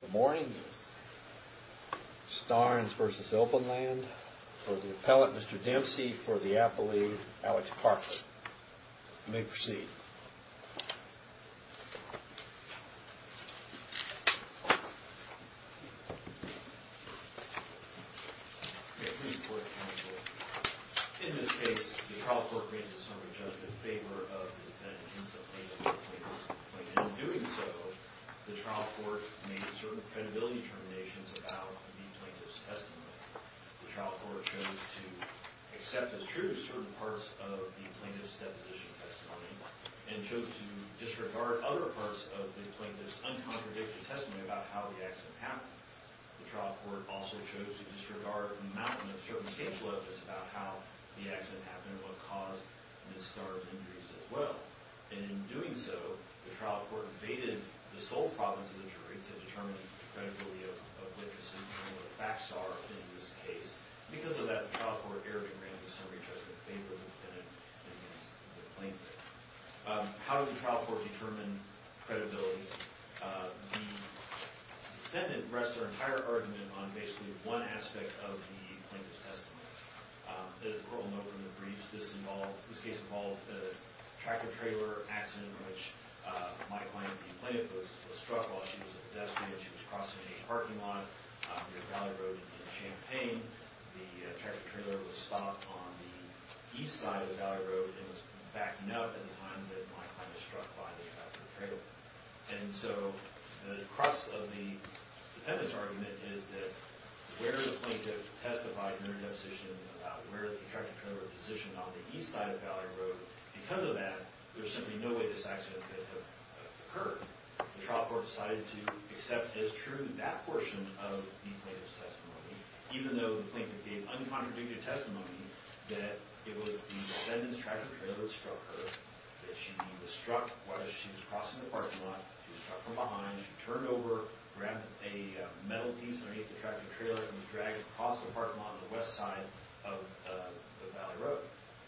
Good morning, Starns v. Obenland. For the appellant, Mr. Dempsey. For the appellee, Alex Parker. You may proceed. In this case, the trial court ran to summary judgment in favor of the defendant against the plaintiff and the plaintiff's plaintiff. In doing so, the trial court made certain credibility determinations about the plaintiff's testimony. The trial court chose to accept as true certain parts of the plaintiff's deposition testimony and chose to disregard other parts of the plaintiff's uncontradicted testimony about how the accident happened. The trial court also chose to disregard an amount of circumstantial evidence about how the accident happened and what caused Ms. Starns' injuries as well. In doing so, the trial court evaded the sole province of the jury to determine the credibility of witnesses and what the facts are in this case. Because of that, the trial court erred and ran to summary judgment in favor of the defendant against the plaintiff. How did the trial court determine credibility? The defendant rests her entire argument on basically one aspect of the plaintiff's testimony. As we all know from the briefs, this case involved a tractor-trailer accident in which my client, the plaintiff, was struck while she was a pedestrian. She was crossing a parking lot near Valley Road in Champaign. The tractor-trailer was stopped on the east side of Valley Road and was backing up at the time that my client was struck by the tractor-trailer. And so, the crux of the defendant's argument is that where the plaintiff testified in her deposition about where the tractor-trailer was positioned on the east side of Valley Road, because of that, there's simply no way this accident could have occurred. The trial court decided to accept as true that portion of the plaintiff's testimony, even though the plaintiff gave uncontradicted testimony that it was the defendant's tractor-trailer that struck her, that she was struck while she was crossing the parking lot. She was struck from behind. She turned over, grabbed a metal piece underneath the tractor-trailer, and was dragged across the parking lot on the west side of Valley Road.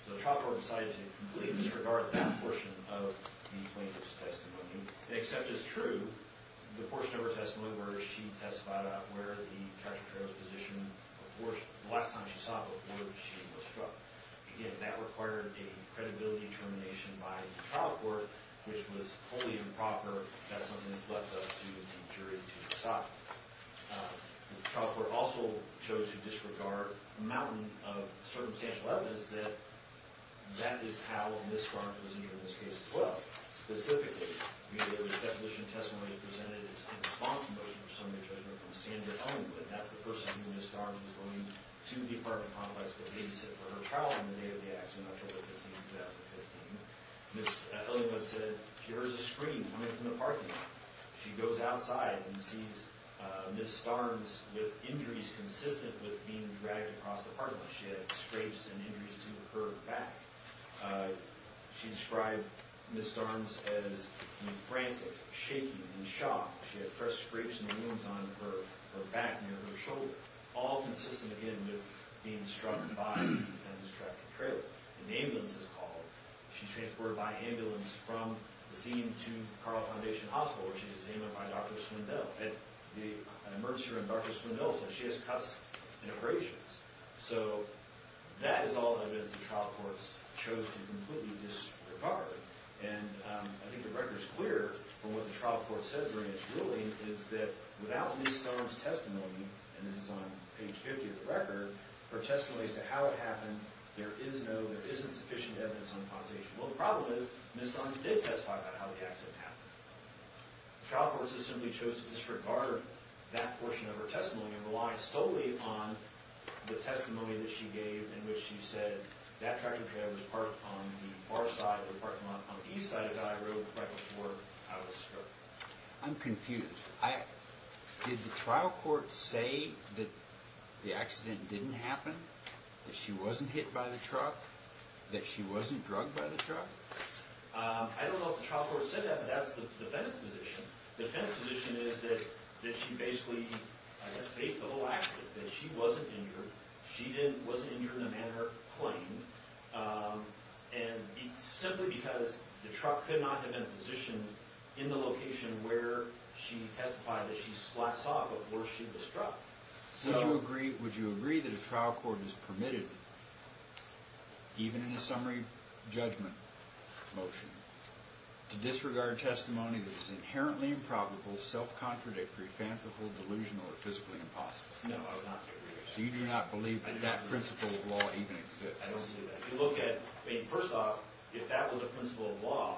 So the trial court decided to completely disregard that portion of the plaintiff's testimony and accept as true the portion of her testimony where she testified about where the tractor-trailer was positioned the last time she saw it, before she was struck. Again, that required a credibility determination by the trial court, which was wholly improper. That's something that's left up to the jury to decide. The trial court also chose to disregard a mountain of circumstantial evidence that that is how Ms. Starnes was injured in this case, as well. Specifically, the deposition testimony presented is in response to motion of summary judgment from Sandra Owenwood. That's the person who Ms. Starnes was going to the apartment complex to babysit for her trial on the day of the accident, October 15, 2015. Ms. Owenwood said she heard a scream coming from the parking lot. She goes outside and sees Ms. Starnes with injuries consistent with being dragged across the parking lot. She had scrapes and injuries to her back. She described Ms. Starnes as frantic, shaky, in shock. She had pressed scrapes and wounds on her back near her shoulder, all consistent, again, with being struck by the defendant's tractor-trailer. An ambulance is called. She's transported by ambulance from the scene to Carle Foundation Hospital, where she's examined by Dr. Swindell. At the emergency room, Dr. Swindell says she has cuts and abrasions. So that is all evidence the trial court chose to completely disregard. And I think the record is clear from what the trial court said during its ruling, is that without Ms. Starnes' testimony, and this is on page 50 of the record, her testimony as to how it happened, there is no, there isn't sufficient evidence on the causation. Well, the problem is, Ms. Starnes did testify about how the accident happened. The trial court has simply chosen to disregard that portion of her testimony and rely solely upon the testimony that she gave in which she said that tractor-trailer was parked on the far side of the parking lot on the east side of Dyer Road right before I was struck. I'm confused. Did the trial court say that the accident didn't happen, that she wasn't hit by the truck, that she wasn't drugged by the truck? I don't know if the trial court said that, but that's the defendant's position. The defendant's position is that she basically, I guess, faked the whole accident, that she wasn't injured. She wasn't injured in the manner claimed, and simply because the truck could not have been positioned in the location where she testified, that she saw before she was struck. Would you agree that a trial court is permitted, even in a summary judgment motion, to disregard testimony that is inherently improbable, self-contradictory, fanciful, delusional, or physically impossible? No, I would not agree with that. So you do not believe that that principle of law even exists? I don't believe that. If you look at, I mean, first off, if that was a principle of law,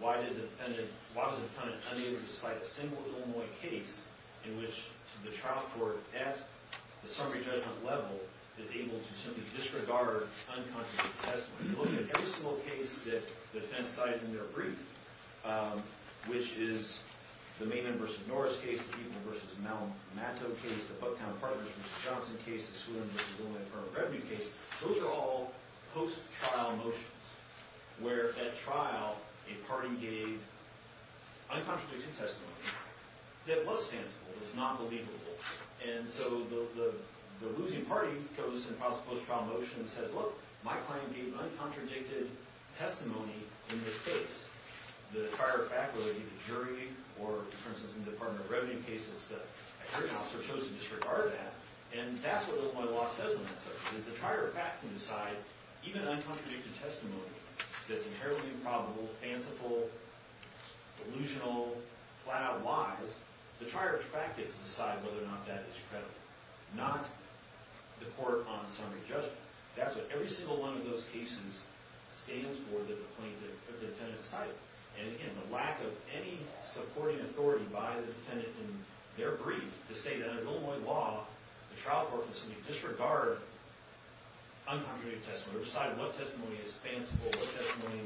why was the defendant unable to cite a single Illinois case in which the trial court, at the summary judgment level, is able to simply disregard uncontradictory testimony? If you look at every single case that the defendants cite in their brief, which is the Maynard v. Norris case, the Eastman v. Mato case, the Bucktown Partners v. Johnson case, the Swinton v. Willamette Farm Revenue case, those are all post-trial motions where, at trial, a party gave uncontradicted testimony that was fanciful. It's not believable. And so the losing party goes and files a post-trial motion and says, look, my client gave uncontradicted testimony in this case. The trier of fact, whether it be the jury or, for instance, in the Department of Revenue cases, I heard an officer chosen to disregard that. And that's what Illinois law says on that subject, is the trier of fact can decide, even uncontradicted testimony that's inherently improbable, fanciful, delusional, flat-out lies, the trier of fact gets to decide whether or not that is credible. Not the court on the summary judgment. That's what every single one of those cases stands for that the defendant cited. And again, the lack of any supporting authority by the defendant in their brief to say that in Illinois law, the trial court can simply disregard uncontradicted testimony or decide what testimony is fanciful, what testimony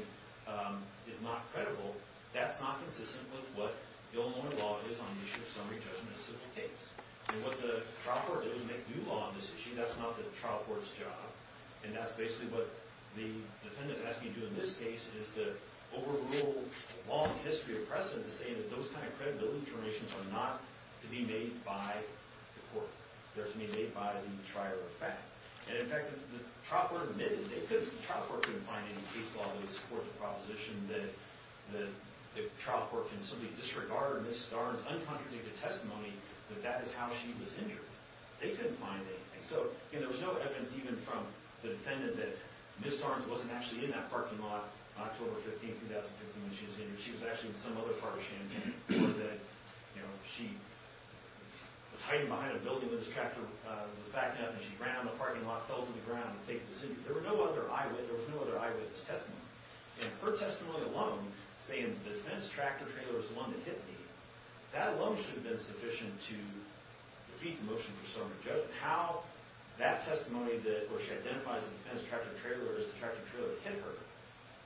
is not credible, that's not consistent with what Illinois law is on the issue of summary judgment in such a case. And what the trial court does is make new law on this issue. That's not the trial court's job. And that's basically what the defendant is asking you to do in this case, is to overrule the long history of precedent to say that those kind of credibility determinations are not to be made by the court. They're to be made by the trier of fact. And in fact, the trial court admitted, the trial court couldn't find any case law that would support the proposition that the trial court can simply disregard Ms. Starnes' uncontradicted testimony, that that is how she was injured. They couldn't find anything. So there was no evidence even from the defendant that Ms. Starnes wasn't actually in that parking lot on October 15, 2015 when she was injured. She was actually in some other part of Champaign, or that she was hiding behind a building when this tractor was backing up, and she ran out of the parking lot, fell to the ground, and faked the scene. There was no other eyewitness testimony. And her testimony alone, saying the fenced tractor trailer was the one that hit me, that alone should have been sufficient to defeat the motion for serving a judgment. How that testimony did it, or she identifies the fenced tractor trailer as the tractor trailer that hit her,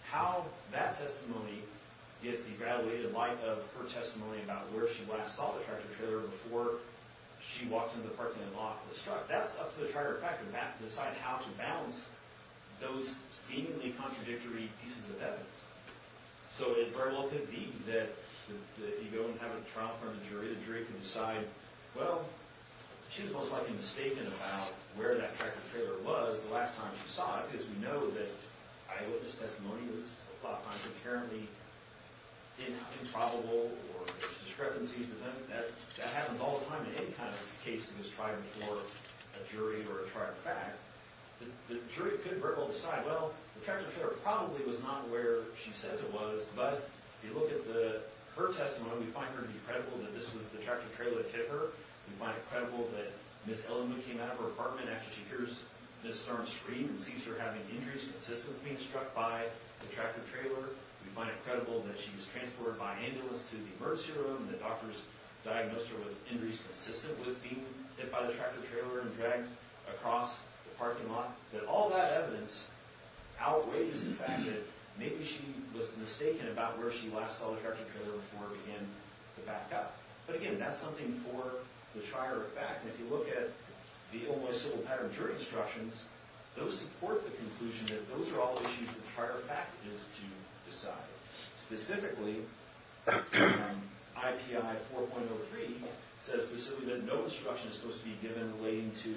how that testimony gets evaluated in light of her testimony about where she last saw the tractor trailer before she walked into the parking lot and was struck, that's up to the tractor tracker to decide how to balance those seemingly contradictory pieces of evidence. So it very well could be that if you go and have a trial in front of a jury, the jury can decide, well, she was most likely mistaken about where that tractor trailer was the last time she saw it, because we know that eyewitness testimony is a lot of times inherently improbable or there's discrepancies. But that happens all the time in any kind of case that was tried before a jury or a trial in fact. The jury could very well decide, well, the tractor trailer probably was not where she says it was. But if you look at her testimony, we find her to be credible that this was the tractor trailer that hit her. We find it credible that Ms. Elliman came out of her apartment after she hears Ms. Storm scream and sees her having injuries consistent with being struck by the tractor trailer. We find it credible that she was transported by ambulance to the emergency room and the doctors diagnosed her with injuries consistent with being hit by the tractor trailer and dragged across the parking lot. That all that evidence outweighs the fact that maybe she was mistaken about where she last saw the tractor trailer before it began to back up. But again, that's something for the trier of fact. And if you look at the Olmos civil pattern jury instructions, those support the conclusion that those are all issues the trier of fact needs to decide. Specifically, IPI 4.03 says specifically that no instruction is supposed to be given relating to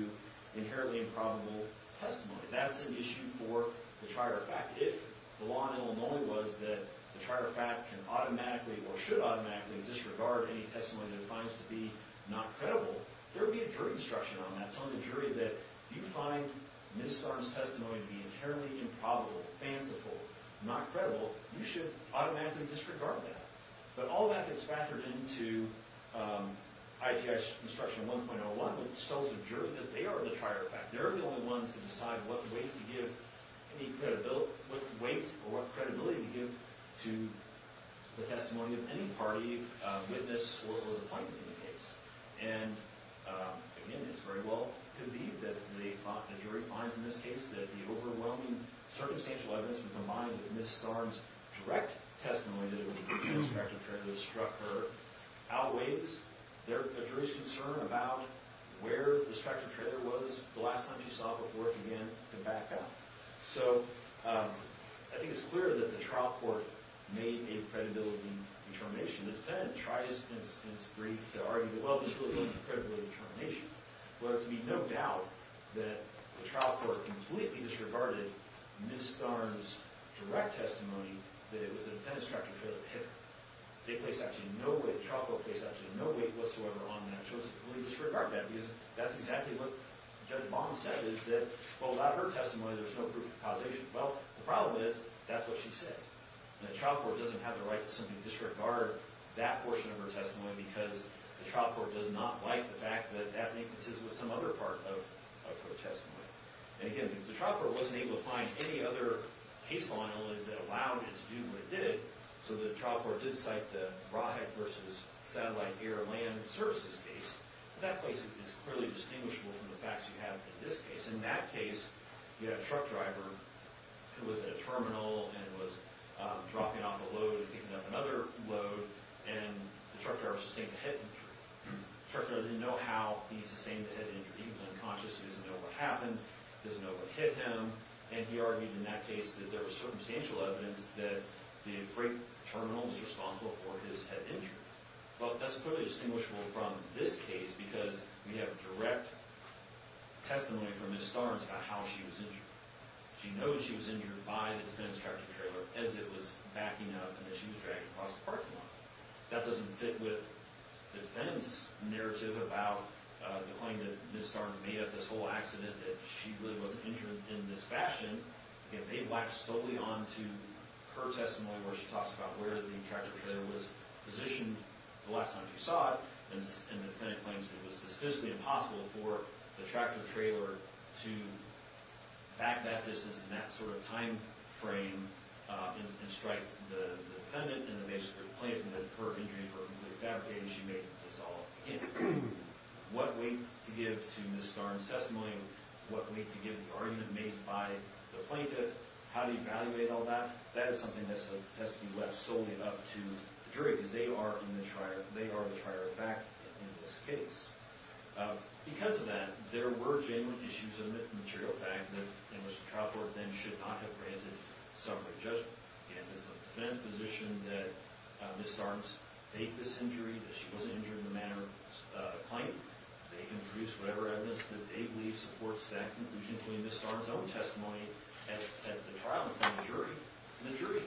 inherently improbable testimony. That's an issue for the trier of fact. If the law in Illinois was that the trier of fact can automatically or should automatically disregard any testimony that it finds to be not credible, there would be a jury instruction on that telling the jury that if you find Ms. Storm's testimony to be inherently improbable, fanciful, not credible, you should automatically disregard that. But all that gets factored into IPI's instruction 1.01, which tells the jury that they are the trier of fact. They're the only ones to decide what weight to give any credibility, what weight or what credibility to give to the testimony of any party, witness, or appointment in the case. And, again, it's very well could be that the jury finds in this case that the overwhelming circumstantial evidence, combined with Ms. Storm's direct testimony that it was the construction trailer that struck her, outweighs the jury's concern about where the construction trailer was the last time she saw it before it began to back up. So I think it's clear that the trial court made a credibility determination. The defendant tries in its brief to argue that, well, this really wasn't a credibility determination. But there can be no doubt that the trial court completely disregarded Ms. Storm's direct testimony that it was the defendant's construction trailer that hit her. They placed actually no weight, the trial court placed actually no weight whatsoever on that and chose to completely disregard that because that's exactly what Judge Baum said, is that, well, without her testimony, there's no proof of causation. Well, the problem is, that's what she said. The trial court doesn't have the right to simply disregard that portion of her testimony because the trial court does not like the fact that that's inconsistent with some other part of her testimony. And, again, the trial court wasn't able to find any other case file that allowed it to do what it did. So the trial court did cite the rawhide versus satellite air and land services case. In that case, it's clearly distinguishable from the facts you have in this case. In that case, you have a truck driver who was at a terminal and was dropping off a load and picking up another load, and the truck driver sustained a head injury. The truck driver didn't know how he sustained the head injury. He was unconscious. He doesn't know what happened. He doesn't know what hit him. And he argued in that case that there was circumstantial evidence that the freight terminal was responsible for his head injury. Well, that's clearly distinguishable from this case because we have direct testimony from Ms. Starnes about how she was injured. She knows she was injured by the defense tractor trailer as it was backing up and as she was driving across the parking lot. That doesn't fit with the defense narrative about the claim that Ms. Starnes made of this whole accident, that she really wasn't injured in this fashion. Again, they blacked solely on to her testimony where she talks about where the tractor trailer was positioned the last time she saw it. And the defendant claims it was physically impossible for the tractor trailer to back that distance in that sort of time frame and strike the defendant and the plaintiff and that her injuries were completely fabricated. She made this all up. Again, what weight to give to Ms. Starnes' testimony, what weight to give the argument made by the plaintiff, how to evaluate all that, that is something that has to be left solely up to the jury because they are the trier of fact in this case. Because of that, there were genuine issues of material fact in which the trial court then should not have granted summary judgment. Again, it's the defense position that Ms. Starnes made this injury, that she wasn't injured in the manner of the plaintiff. They can produce whatever evidence that they believe supports that conclusion, including Ms. Starnes' own testimony at the trial in front of the jury. And the jury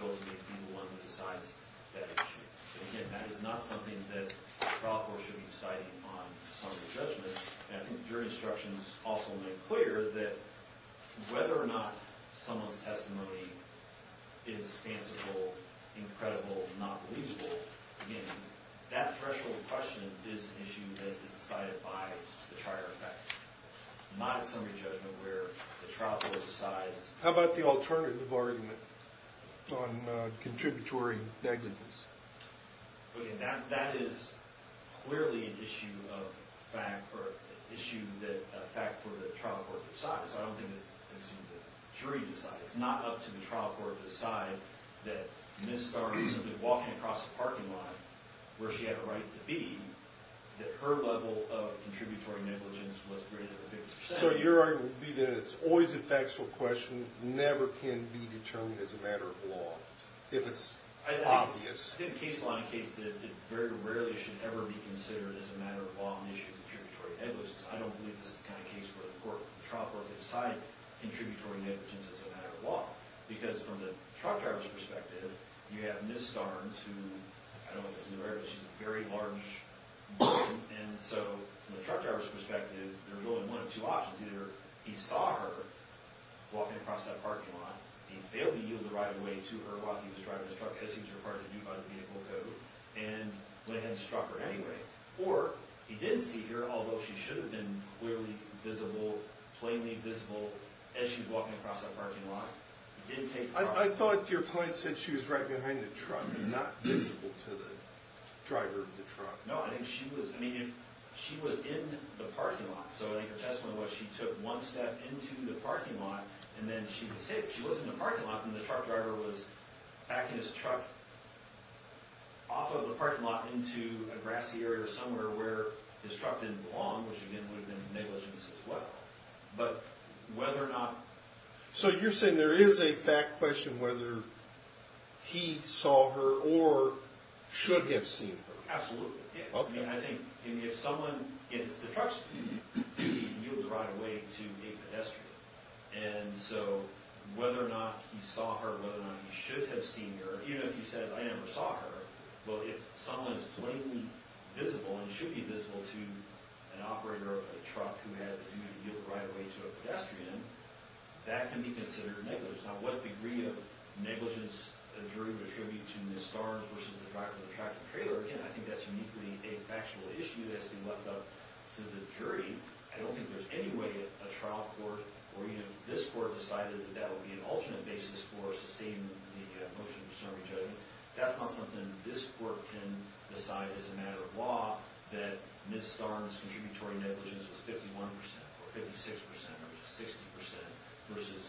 will be the one who decides that issue. Again, that is not something that the trial court should be deciding on summary judgment. I think your instructions also make clear that whether or not someone's testimony is answerable, incredible, not believable, again, that threshold question is an issue that is decided by the trier of fact, not summary judgment where the trial court decides. How about the alternative argument on contributory negligence? Okay, that is clearly an issue of fact for the trial court to decide. So I don't think it's up to the jury to decide. It's not up to the trial court to decide that Ms. Starnes simply walking across a parking lot where she had a right to be, that her level of contributory negligence was greater than 50%. So your argument would be that it's always a factual question, never can be determined as a matter of law, if it's obvious. I think case law indicates that it very rarely should ever be considered as a matter of law an issue of contributory negligence. I don't believe this is the kind of case where the trial court can decide contributory negligence as a matter of law. Because from the truck driver's perspective, you have Ms. Starnes, who I don't know if that's in the record, but she's a very large woman. And so from the truck driver's perspective, there's only one of two options. Either he saw her walking across that parking lot, he failed to yield the right of way to her while he was driving his truck, as he was required to do by the vehicle code, and went ahead and struck her anyway. Or he didn't see her, although she should have been clearly visible, plainly visible, as she was walking across that parking lot. He didn't take the truck. I thought your point said she was right behind the truck and not visible to the driver of the truck. No, I think she was in the parking lot. So I think her testimony was she took one step into the parking lot and then she was hit. And the truck driver was backing his truck off of the parking lot into a grassy area or somewhere where his truck didn't belong, which again would have been negligence as well. But whether or not... So you're saying there is a fact question whether he saw her or should have seen her. Absolutely. I mean, I think if someone hits the truck, he yields the right of way to a pedestrian. And so whether or not he saw her, whether or not he should have seen her, even if he says, I never saw her, well, if someone is plainly visible and should be visible to an operator of a truck who has the duty to yield the right of way to a pedestrian, that can be considered negligence. Now, what degree of negligence a jury would attribute to Ms. Starnes versus the driver of the traffic trailer, again, I think that's uniquely a factual issue that has to be left up to the jury. I don't think there's any way a trial court or even if this court decided that that would be an alternate basis for sustaining the motion to disarm a judge. That's not something this court can decide as a matter of law that Ms. Starnes' contributory negligence was 51 percent or 56 percent or 60 percent versus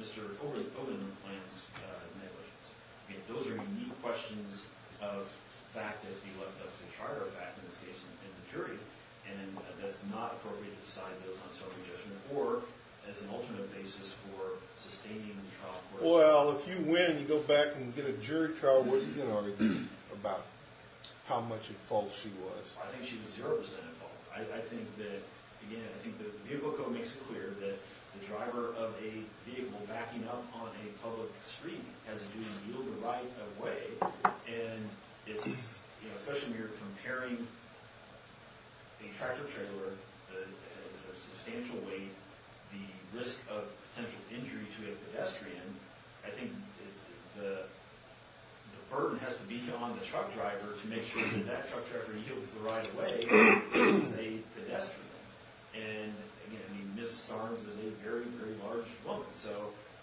Mr. Overton's negligence. Those are unique questions of fact that have to be left up to the charter of fact in this case and the jury. And that's not appropriate to decide those on self-adjustment or as an alternate basis for sustaining the trial court. Well, if you win and you go back and get a jury trial, what are you going to argue about how much at fault she was? I think she was zero percent at fault. I think that, again, I think that the vehicle code makes it clear that the driver of a vehicle backing up on a public street has a duty to yield the right of way. And it's, you know, especially when you're comparing a tractor trailer that has a substantial weight, the risk of potential injury to a pedestrian, I think the burden has to be on the truck driver to make sure that that truck driver yields the right of way versus a pedestrian. And, again, I mean, Ms. Starnes is a very, very large woman. So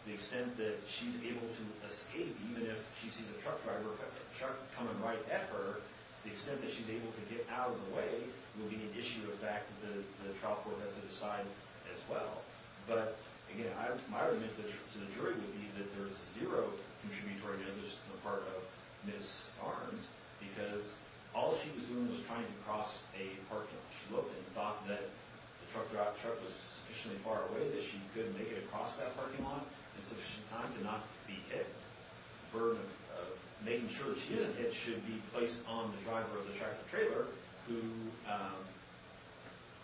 the extent that she's able to escape, even if she sees a truck driver or a truck coming right at her, the extent that she's able to get out of the way will be an issue of fact that the trial court has to decide as well. But, again, my argument to the jury would be that there's zero contributory negligence on the part of Ms. Starnes because all she was doing was trying to cross a parking lot. She looked and thought that the truck was sufficiently far away that she could make it across that parking lot in sufficient time to not be hit. The burden of making sure that she isn't hit should be placed on the driver of the tractor trailer who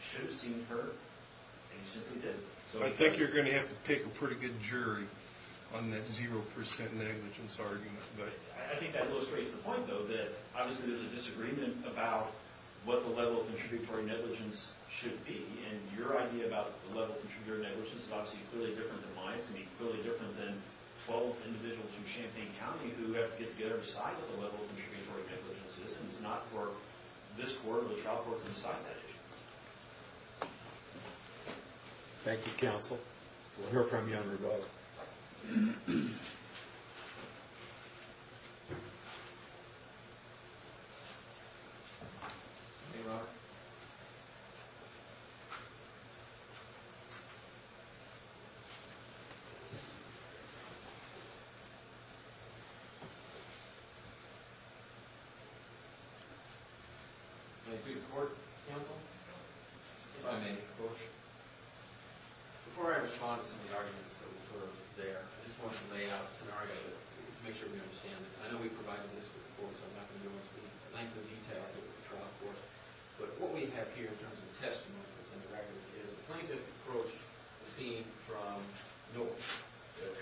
should have seen her, and he simply didn't. I think you're going to have to pick a pretty good jury on that zero percent negligence argument. I think that illustrates the point, though, that obviously there's a disagreement about what the level of contributory negligence should be. And your idea about the level of contributory negligence is obviously clearly different than mine. It's going to be clearly different than 12 individuals from Champaign County who have to get together and decide what the level of contributory negligence is. And it's not for this court or the trial court to decide that issue. Thank you, counsel. We'll hear from you on rebuttal. Thank you. May I please report, counsel, if I may? Of course. Before I respond to some of the arguments that were there, I just want to lay out a scenario to make sure we understand this. I know we've provided this before, so I'm not going to go into the length of detail here with the trial court. But what we have here in terms of testimony that's on the record is the plaintiff approached the scene from north,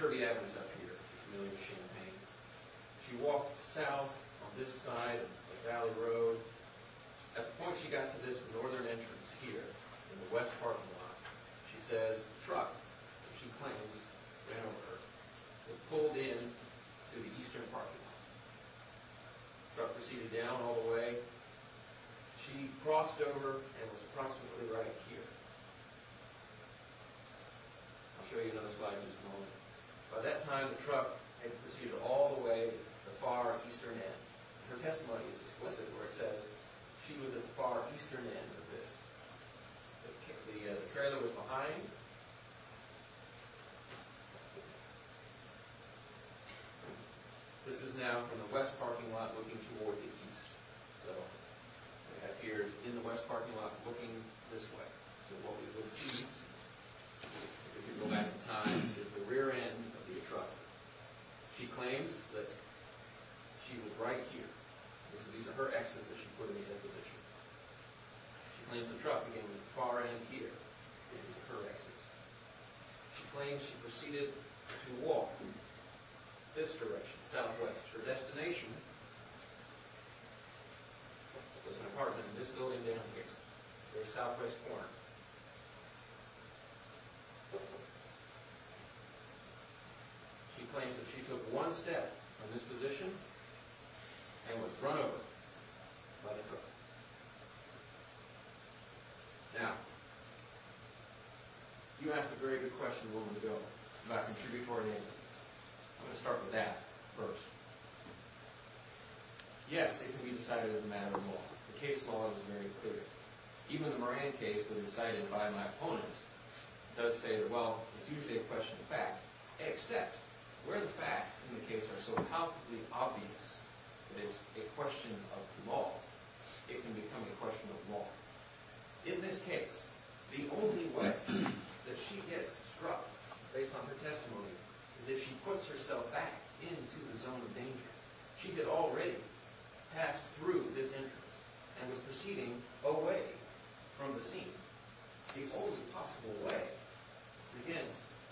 Kirby Avenue is up here, familiar with Champaign. She walked south on this side of Valley Road. At the point she got to this northern entrance here in the west parking lot, she says the truck that she claims ran over her. It pulled in to the eastern parking lot. The truck proceeded down all the way. She crossed over and was approximately right here. I'll show you another slide in just a moment. By that time, the truck had proceeded all the way to the far eastern end. Her testimony is explicit where it says she was at the far eastern end of this. The trailer was behind. This is now from the west parking lot looking toward the east. So it appears in the west parking lot looking this way. What we will see, if we go back in time, is the rear end of the truck. She claims that she was right here. These are her exits that she put in that position. She claims the truck began at the far end here. These are her exits. She claims she proceeded to walk in this direction, southwest. Her destination was an apartment in this building down here. The southwest corner. She claims that she took one step from this position and was run over by the truck. Now, you asked a very good question a moment ago about contributory names. I'm going to start with that first. Yes, it can be decided as a matter of law. The case law is very clear. Even the Moran case that is cited by my opponent does say that, well, it's usually a question of fact. Except, where the facts in the case are so palpably obvious that it's a question of law, it can become a question of law. In this case, the only way that she gets struck, based on her testimony, is if she puts herself back into the zone of danger. She had already passed through this entrance and was proceeding away from the scene. The only possible way, again,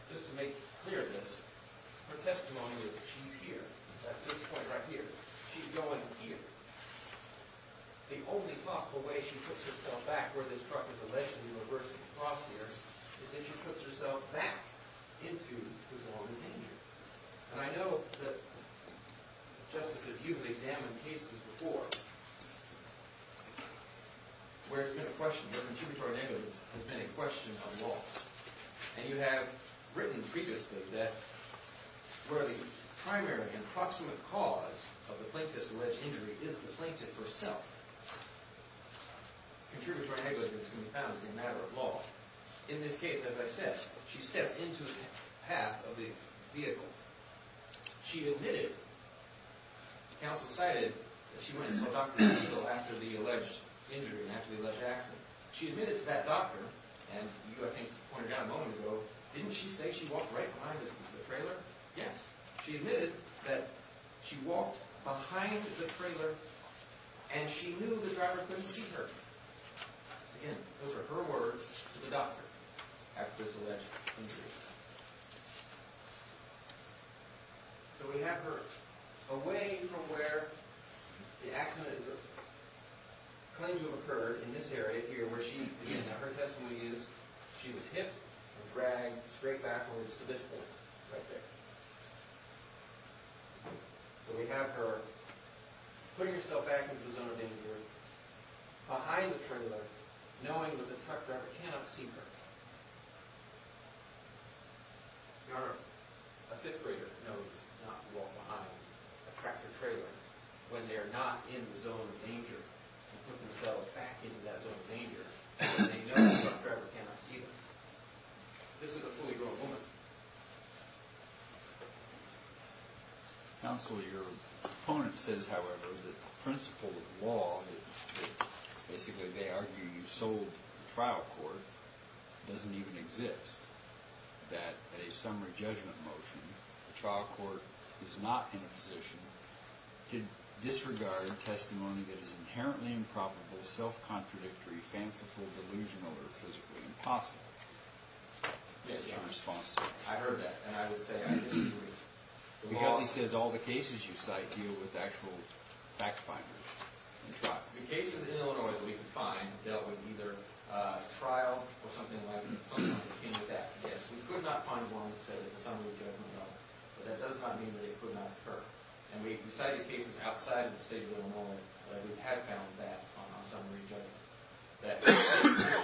just to make clear this, her testimony is that she's here. That's this point right here. She's going here. The only possible way she puts herself back where this truck is alleged to have reversed and crossed here is if she puts herself back into the zone of danger. And I know that, Justices, you've examined cases before where it's been a question, where contributory names have been a question of law. And you have written previously that where the primary and proximate cause of the plaintiff's alleged injury is the plaintiff herself. Contributory negligence can be found as a matter of law. In this case, as I said, she stepped into the path of the vehicle. She admitted, the counsel cited that she went and saw Dr. Siegel after the alleged injury and after the alleged accident. She admitted to that doctor, and you, I think, pointed out a moment ago, didn't she say she walked right behind the trailer? Yes. She admitted that she walked behind the trailer and she knew the driver couldn't see her. Again, those are her words to the doctor after this alleged injury. So we have her away from where the accident is a claim to have occurred in this area here where she, her testimony is she was hit and dragged straight backwards to this point right there. So we have her putting herself back into the zone of danger behind the trailer knowing that the truck driver cannot see her. Your Honor, a fifth grader knows not to walk behind a tractor trailer when they are not in the zone of danger and put themselves back into that zone of danger when they know the truck driver cannot see them. This is a fully grown woman. Counsel, your opponent says, however, that the principle of law, that basically they argue you sold the trial court, doesn't even exist. That at a summary judgment motion, the trial court is not in a position to disregard testimony that is inherently improbable, self-contradictory, fanciful, delusional, or physically impossible. Yes, Your Honor. I heard that and I would say I disagree. Because he says all the cases you cite deal with actual fact-finders. The cases in Illinois that we could find dealt with either trial or something like that. Yes, we could not find one that said a summary judgment, but that does not mean that it could not occur. And we cited cases outside of the state of Illinois where we have found that on a summary judgment. That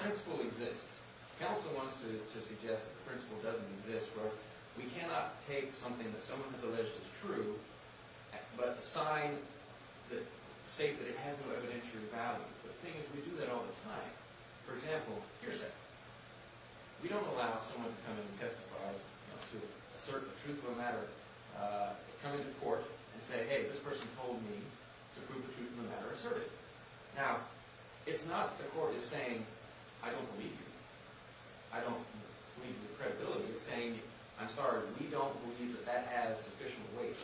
principle exists. Counsel wants to suggest that the principle doesn't exist where we cannot take something that someone has alleged is true but state that it has no evidentiary value. The thing is we do that all the time. For example, we don't allow someone to come in and testify, to assert the truth of the matter, come into court and say, hey, this person told me to prove the truth of the matter, assert it. Now, it's not that the court is saying, I don't believe you. I don't believe the credibility. It's saying, I'm sorry, we don't believe that that has sufficient weight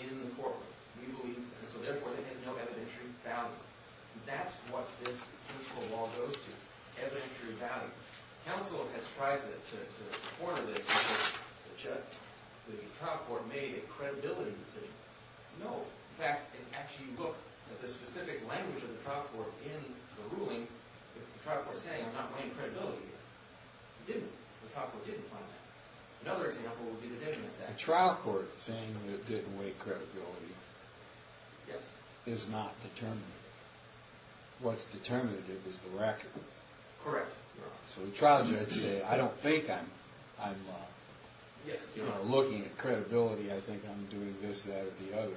in the court. We believe, and so therefore it has no evidentiary value. That's what this principle of law goes to, evidentiary value. Counsel has tried to corner this. The trial court made a credibility decision. In fact, if you look at the specific language of the trial court in the ruling, the trial court is saying, I'm not weighing credibility here. It didn't. The trial court didn't find that. Another example would be the Dignity Act. The trial court saying it didn't weigh credibility is not determinative. What's determinative is the record. Correct. So the trial judge said, I don't think I'm looking at credibility. I think I'm doing this, that, or the other.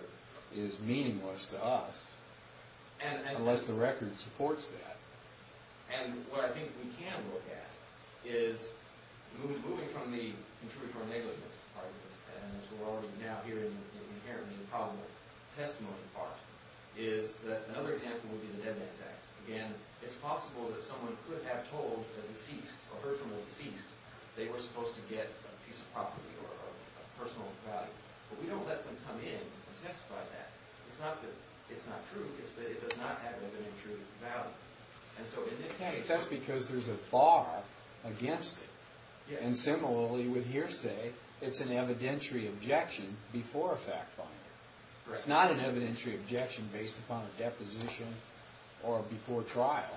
It's meaningless to us unless the record supports that. And what I think we can look at is moving from the contrived or negligence part of it, and that's what we're already now hearing in here in the improbable testimony part, is that another example would be the Dead Man's Act. Again, it's possible that someone could have told a deceased, a personal deceased, they were supposed to get a piece of property or a personal value. But we don't let them come in and testify to that. It's not that it's not true. It's that it does not have evidentiary value. And so in this case, That's because there's a bar against it. And similarly with hearsay, it's an evidentiary objection before a fact-finding. It's not an evidentiary objection based upon a deposition or before trial.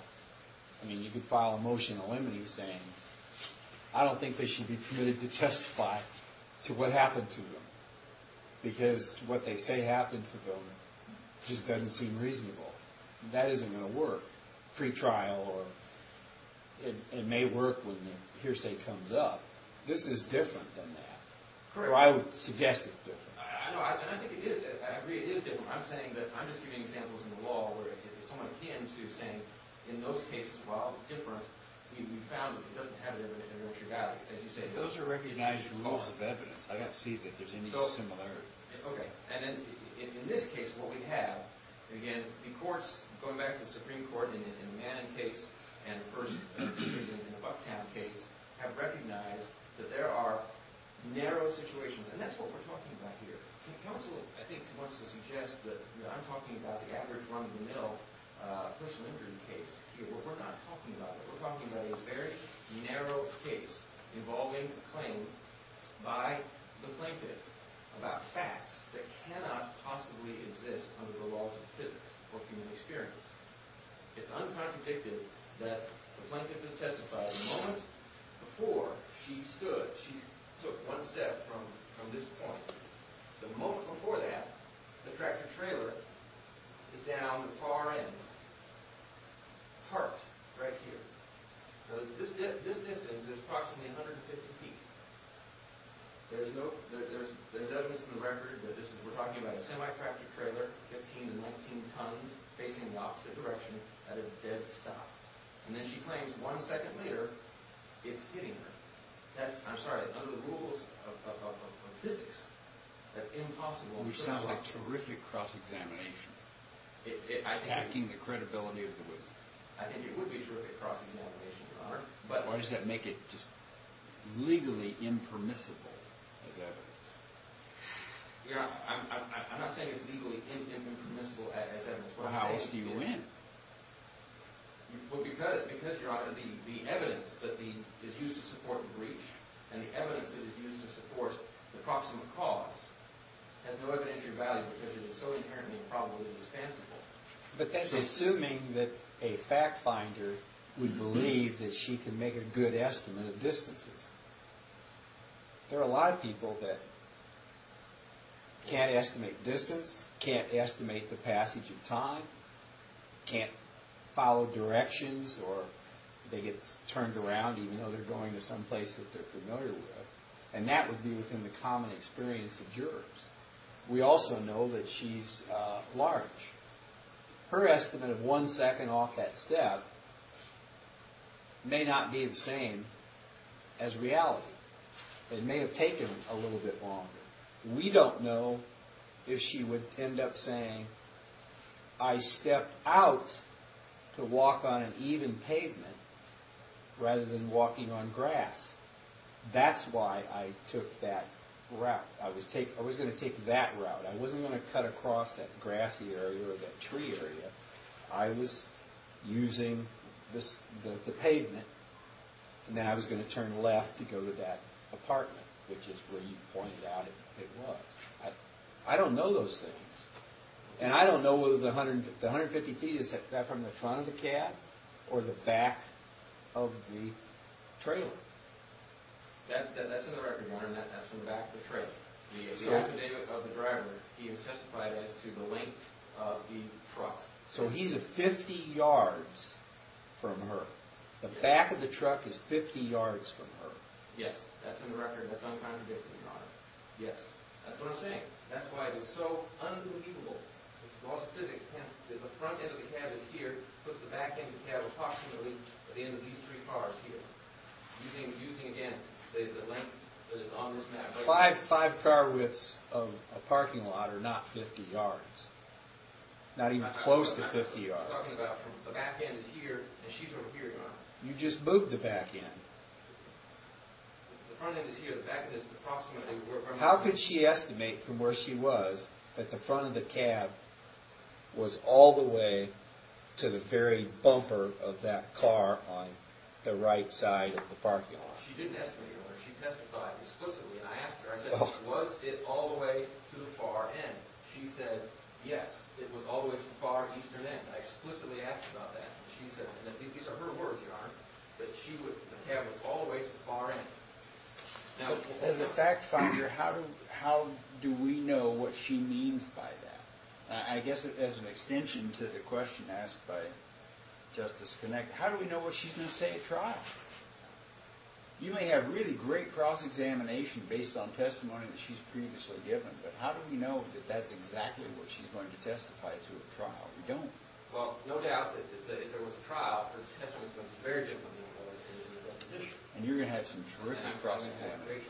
I mean, you could file a motion eliminating saying, I don't think they should be permitted to testify to what happened to them because what they say happened to them just doesn't seem reasonable. That isn't going to work. Pre-trial or it may work when the hearsay comes up. So I would suggest it's different. I know, and I think it is. I agree it is different. I'm saying that, I'm just giving examples in the law where someone came to saying, in those cases, while different, we found that it doesn't have evidentiary value. Those are recognized rules of evidence. I don't see that there's any similarity. Okay. And in this case, what we have, again, the courts, going back to the Supreme Court in the Mannon case and the first case in the Bucktown case, have recognized that there are narrow situations. And that's what we're talking about here. Counsel, I think, wants to suggest that I'm talking about the average run-of-the-mill personal injury case here. Well, we're not talking about that. We're talking about a very narrow case involving a claim by the plaintiff about facts that cannot possibly exist under the laws of physics or human experience. It's uncontradicted that the plaintiff has testified that the moment before she stood, she took one step from this point. The moment before that, the tractor-trailer is down the far end, parked right here. This distance is approximately 150 feet. There's evidence in the record that this is, we're talking about a semi-tractor-trailer, 15 to 19 tons, facing the opposite direction at a dead stop. And then she claims one second later, it's hitting her. That's, I'm sorry, under the rules of physics, that's impossible. Which sounds like terrific cross-examination, attacking the credibility of the witness. I think it would be terrific cross-examination, Your Honor. Or does that make it just legally impermissible as evidence? I'm not saying it's legally impermissible as evidence. Well, how else do you win? Well, because, Your Honor, the evidence that is used to support breach and the evidence that is used to support the proximate cause has no evidentiary value because it is so inherently improbably dispensable. But that's assuming that a fact-finder would believe that she can make a good estimate of distances. There are a lot of people that can't estimate distance, can't estimate the passage of time, can't follow directions, or they get turned around even though they're going to someplace that they're familiar with. And that would be within the common experience of jurors. We also know that she's large. Her estimate of one second off that step may not be the same as reality. It may have taken a little bit longer. We don't know if she would end up saying, I stepped out to walk on an even pavement rather than walking on grass. That's why I took that route. I was going to take that route. I wasn't going to cut across that grassy area or that tree area. I was using the pavement. And then I was going to turn left to go to that apartment, which is where you pointed out it was. I don't know those things. And I don't know whether the 150 feet is from the front of the cab or the back of the trailer. That's in the record, Warren. That's from the back of the trailer. The affidavit of the driver, he has testified as to the length of the truck. So he's 50 yards from her. The back of the truck is 50 yards from her. Yes, that's in the record. That's uncontradictory, Your Honor. Yes. That's what I'm saying. That's why it was so unbelievable. It's a loss of physics. If the front end of the cab is here, it puts the back end of the cab approximately at the end of these three cars here. Using, again, the length that is on this map. Five car widths of a parking lot are not 50 yards. Not even close to 50 yards. I'm talking about the back end is here and she's over here, Your Honor. You just moved the back end. The front end is here. The back end is approximately. How could she estimate from where she was that the front of the cab was all the way to the very bumper of that car on the right side of the parking lot? She didn't estimate, Your Honor. She testified explicitly, and I asked her. I said, was it all the way to the far end? She said, yes, it was all the way to the far eastern end. I explicitly asked her about that. These are her words, Your Honor, that the cab was all the way to the far end. As a fact finder, how do we know what she means by that? I guess as an extension to the question asked by Justice Connick, how do we know what she's going to say at trial? You may have really great cross-examination based on testimony that she's previously given, but how do we know that that's exactly what she's going to testify to at trial? We don't. Well, no doubt that if there was a trial, her testimony is going to be very different than it was in the deposition. And you're going to have some terrific cross-examination. And I'm going to have great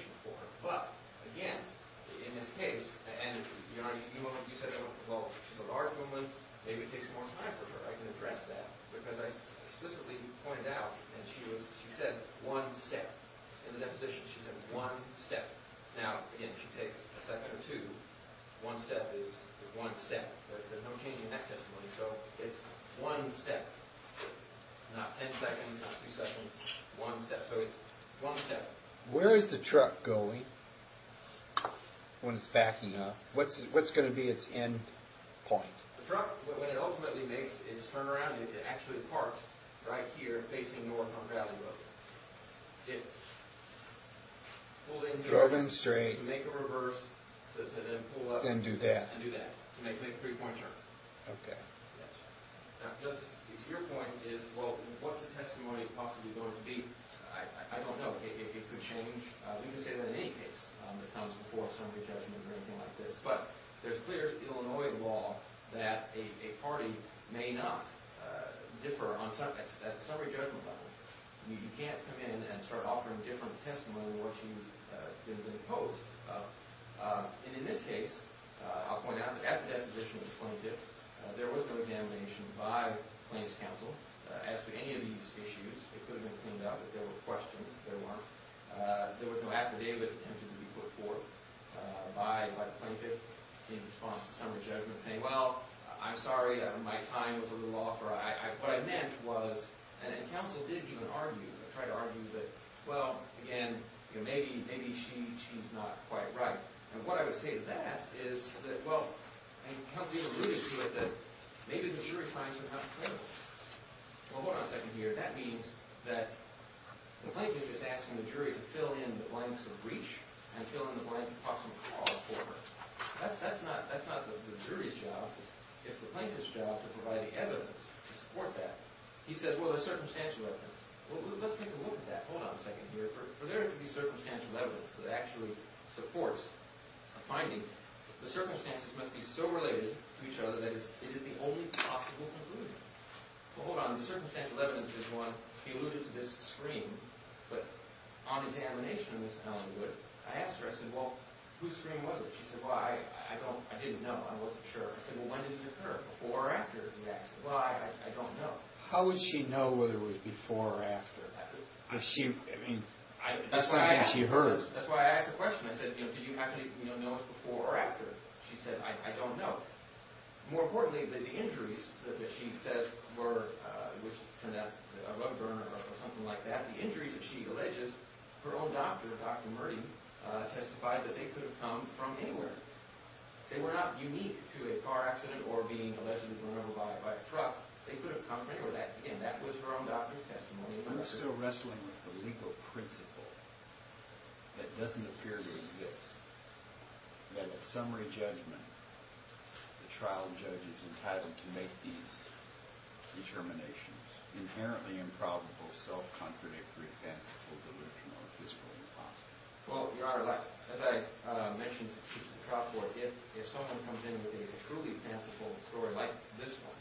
cross-examination for her. But, again, in this case, and, Your Honor, you said, well, she's a large woman. Maybe it takes more time for her. I can address that because I explicitly pointed out that she said one step. In the deposition, she said one step. Now, again, she takes a second or two. One step is one step. There's no change in that testimony. So it's one step, not ten seconds, not two seconds. One step. So it's one step. Where is the truck going when it's backing up? What's going to be its end point? The truck, when it ultimately makes its turnaround, it's actually parked right here facing north on Valley Road. It pulled in here. Drove in straight. To make a reverse to then pull up. Then do that. To make a three-point turn. Okay. Now, Justice, to your point is, well, what's the testimony possibly going to be? I don't know. It could change. We can say that in any case that comes before a summary judgment or anything like this. But there's clear Illinois law that a party may not differ at the summary judgment level. You can't come in and start offering different testimony than what you've been opposed to. And in this case, I'll point out, at the deposition of the plaintiff, there was no examination by the plaintiff's counsel. As for any of these issues, it could have been cleaned up if there were questions that there weren't. There was no affidavit attempted to be put forth by the plaintiff in response to summary judgment saying, well, I'm sorry, my time was a little off. What I meant was, and counsel did even argue, tried to argue that, well, again, maybe she's not quite right. And what I would say to that is that, well, and counsel even alluded to it, that maybe the jury finds it not credible. Well, hold on a second here. That means that the plaintiff is asking the jury to fill in the blanks of breach and fill in the blanks of possible cause for her. That's not the jury's job. It's the plaintiff's job to provide the evidence to support that. He says, well, there's circumstantial evidence. Well, let's take a look at that. Hold on a second here. For there to be circumstantial evidence that actually supports a finding, the circumstances must be so related to each other that it is the only possible conclusion. Well, hold on. The circumstantial evidence is one. He alluded to this scream. But on examination of this felony, I asked her, I said, well, whose scream was it? She said, well, I don't, I didn't know. I wasn't sure. I said, well, when did it occur? Before or after the accident? Well, I don't know. How would she know whether it was before or after? I mean, that's what she heard. That's why I asked the question. I said, did you actually know it before or after? She said, I don't know. More importantly, the injuries that she says were, which turned out to be a rug burner or something like that, the injuries that she alleges, her own doctor, Dr. Murty, testified that they could have come from anywhere. They were not unique to a car accident or being allegedly burned alive by a truck. They could have come from anywhere. Again, that was her own doctor's testimony. I'm still wrestling with the legal principle that doesn't appear to exist, that at summary judgment, the trial judge is entitled to make these determinations, inherently improbable, self-contradictory, fanciful, delusional, or physically impossible. Well, Your Honor, as I mentioned to the trial court, if someone comes in with a truly fanciful story like this one,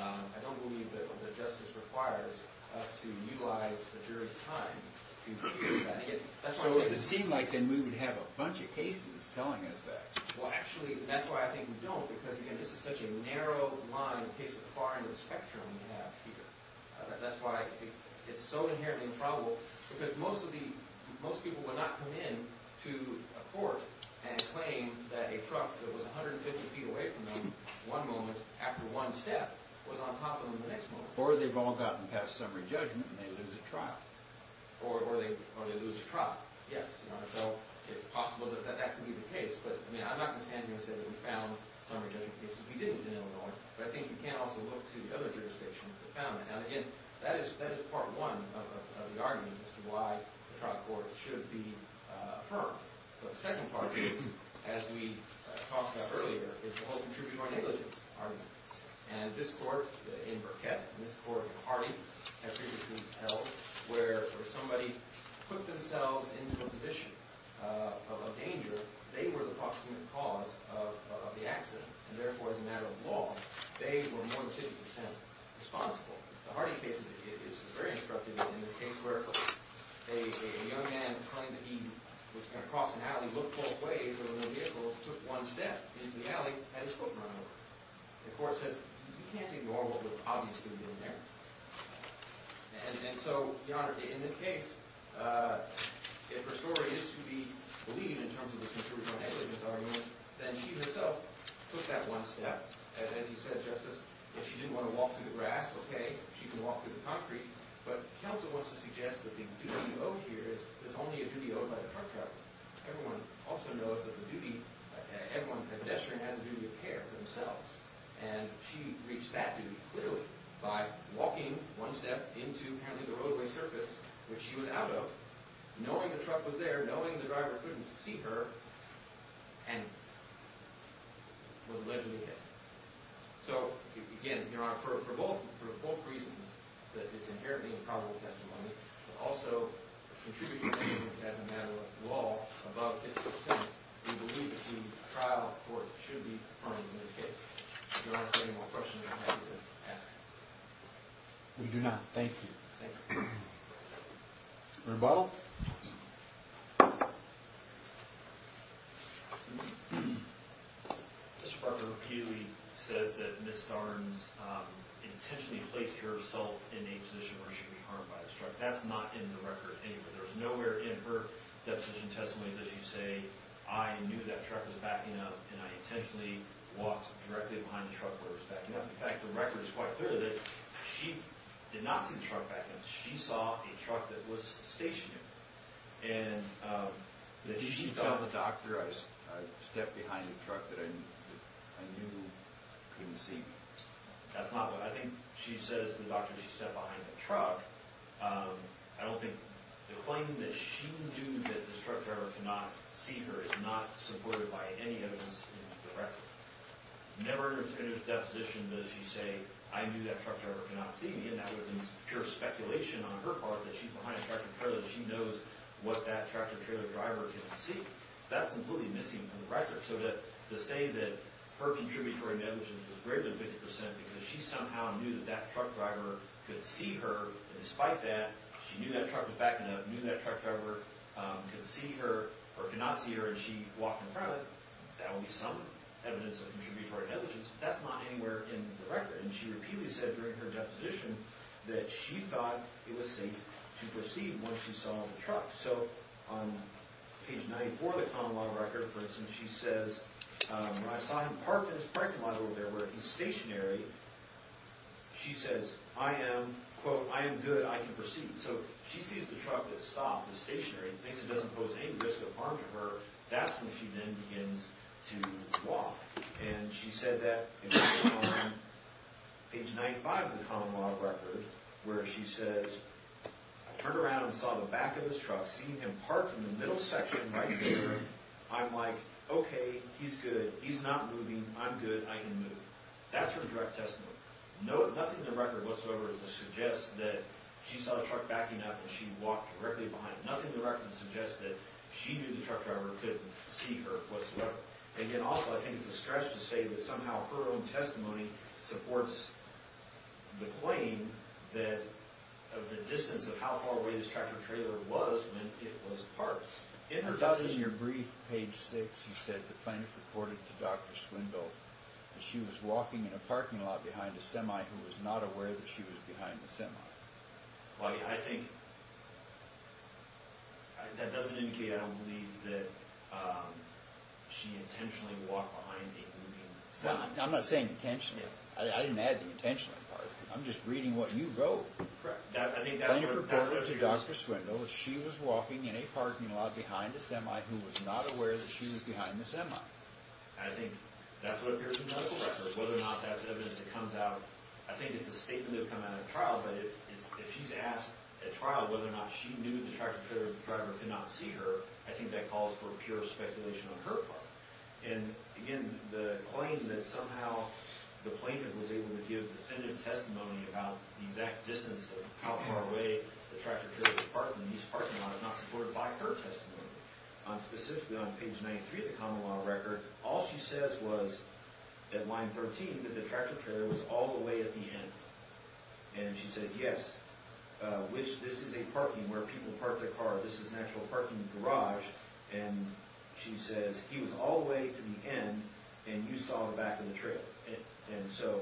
I don't believe that justice requires us to utilize the jury's time to hear that. So it would seem like then we would have a bunch of cases telling us that. Well, actually, that's why I think we don't, because, again, this is such a narrow line in case of the far end of the spectrum we have here. That's why it's so inherently improbable, because most people would not come in to a court and claim that a truck that was 150 feet away from them one moment after one step was on top of them the next moment. Or they've all gotten past summary judgment and they lose a trial. Or they lose a trial, yes. So it's possible that that could be the case. But, I mean, I'm not going to stand here and say that we found summary judgment cases. We didn't in Illinois. But I think you can also look to the other jurisdictions that found it. Now, again, that is part one of the argument as to why the trial court should be firm. But the second part is, as we talked about earlier, is the whole contributional negligence argument. And this court in Burkett and this court in Hardy have previously held where if somebody put themselves into a position of a danger, they were the proximate cause of the accident. And, therefore, as a matter of law, they were more than 50% responsible. The Hardy case is very instructive in the case where a young man claimed that he was going to cross an alley, look both ways over the vehicles, took one step into the alley, had his foot run over. The court says, you can't ignore what was obviously in there. And so, Your Honor, in this case, if her story is to be believed in terms of this contributional negligence argument, then she herself took that one step. As you said, Justice, if she didn't want to walk through the grass, okay, she can walk through the concrete. But counsel wants to suggest that the duty owed here is only a duty owed by the truck driver. Everyone also knows that the duty, everyone, the pedestrian has a duty of care for themselves. And she reached that duty clearly by walking one step into, apparently, the roadway surface, which she was out of, knowing the truck was there, knowing the driver couldn't see her, and was allegedly hit. So, again, Your Honor, for both reasons, that it's inherently a probable testimony, but also a contributory negligence as a matter of law above 50 percent, we believe that the trial court should be affirming in this case. Your Honor, if you have any more questions, I'm happy to ask. We do not. Thank you. Thank you. Rebuttal? Mr. Parker repeatedly says that Ms. Starnes intentionally placed herself in a position where she could be harmed by this truck. That's not in the record anywhere. There's nowhere in her deposition testimony does she say, I knew that truck was backing up, and I intentionally walked directly behind the truck where it was backing up. In fact, the record is quite clear that she did not see the truck backing up. She saw a truck that was stationed. Did she tell the doctor I stepped behind a truck that I knew couldn't see me? That's not what I think she says to the doctor she stepped behind the truck. I don't think the claim that she knew that this truck driver could not see her is not supported by any evidence in the record. Never in her deposition does she say, I knew that truck driver could not see me, and that would be pure speculation on her part that she's behind a truck and she knows what that truck or trailer driver can see. That's completely missing from the record. So to say that her contributory negligence is greater than 50% because she somehow knew that that truck driver could see her, and despite that, she knew that truck was backing up, knew that truck driver could see her or could not see her, and she walked in front of it, that would be some evidence of contributory negligence. That's not anywhere in the record. And she repeatedly said during her deposition that she thought it was safe to proceed once she saw the truck. So on page 94 of the common law record, for instance, she says, I saw him parked in his parking lot over there where he's stationary. She says, I am, quote, I am good, I can proceed. So she sees the truck that stopped, the stationary, and thinks it doesn't pose any risk of harm to her. That's when she then begins to walk. And she said that on page 95 of the common law record where she says, I turned around and saw the back of his truck, seen him parked in the middle section right there. I'm like, okay, he's good. He's not moving. I'm good. I can move. That's her direct testimony. Nothing in the record whatsoever suggests that she saw the truck backing up and she walked directly behind it. Nothing in the record suggests that she knew the truck driver couldn't see her whatsoever. Again, also, I think it's a stretch to say that somehow her own testimony supports the claim that the distance of how far away this tractor trailer was meant it was parked. In her thousand-year brief, page 6, she said the plaintiff reported to Dr. Swinville that she was walking in a parking lot behind a semi who was not aware that she was behind the semi. I think that doesn't indicate, I don't believe, that she intentionally walked behind a moving semi. I'm not saying intentionally. I didn't add the intentionally part. I'm just reading what you wrote. Plaintiff reported to Dr. Swinville that she was walking in a parking lot behind a semi who was not aware that she was behind the semi. I think that's what appears in the medical record, whether or not that's evidence that comes out. I think it's a statement that would come out at trial, but if she's asked at trial whether or not she knew the tractor trailer driver could not see her, I think that calls for pure speculation on her part. And, again, the claim that somehow the plaintiff was able to give definitive testimony about the exact distance of how far away the tractor trailer was parked in these parking lots is not supported by her testimony. Specifically on page 93 of the common law record, all she says was at line 13 that the tractor trailer was all the way at the end. And she says, yes, which this is a parking where people park their car. This is an actual parking garage. And she says he was all the way to the end and you saw the back of the trailer. And so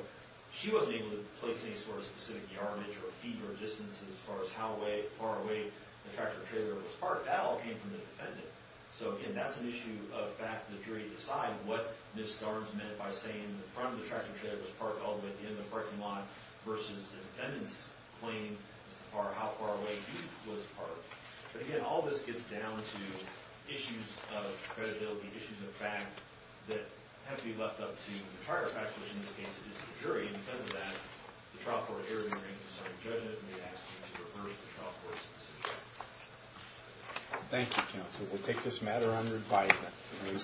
she wasn't able to place any sort of specific yardage or feet or distance as far as how far away the tractor trailer was parked. That all came from the defendant. So, again, that's an issue of back to the jury to decide what Ms. Starnes meant by saying the front of the tractor trailer was parked all the way at the end of the parking lot versus the defendant's claim as to how far away he was parked. But, again, all this gets down to issues of credibility, issues of fact that have to be left up to the charter faculty, which, in this case, is the jury. And because of that, the trial court here in the ring can start a judgment and they ask you to reverse the trial court's decision. Thank you, counsel. We'll take this matter under advisement.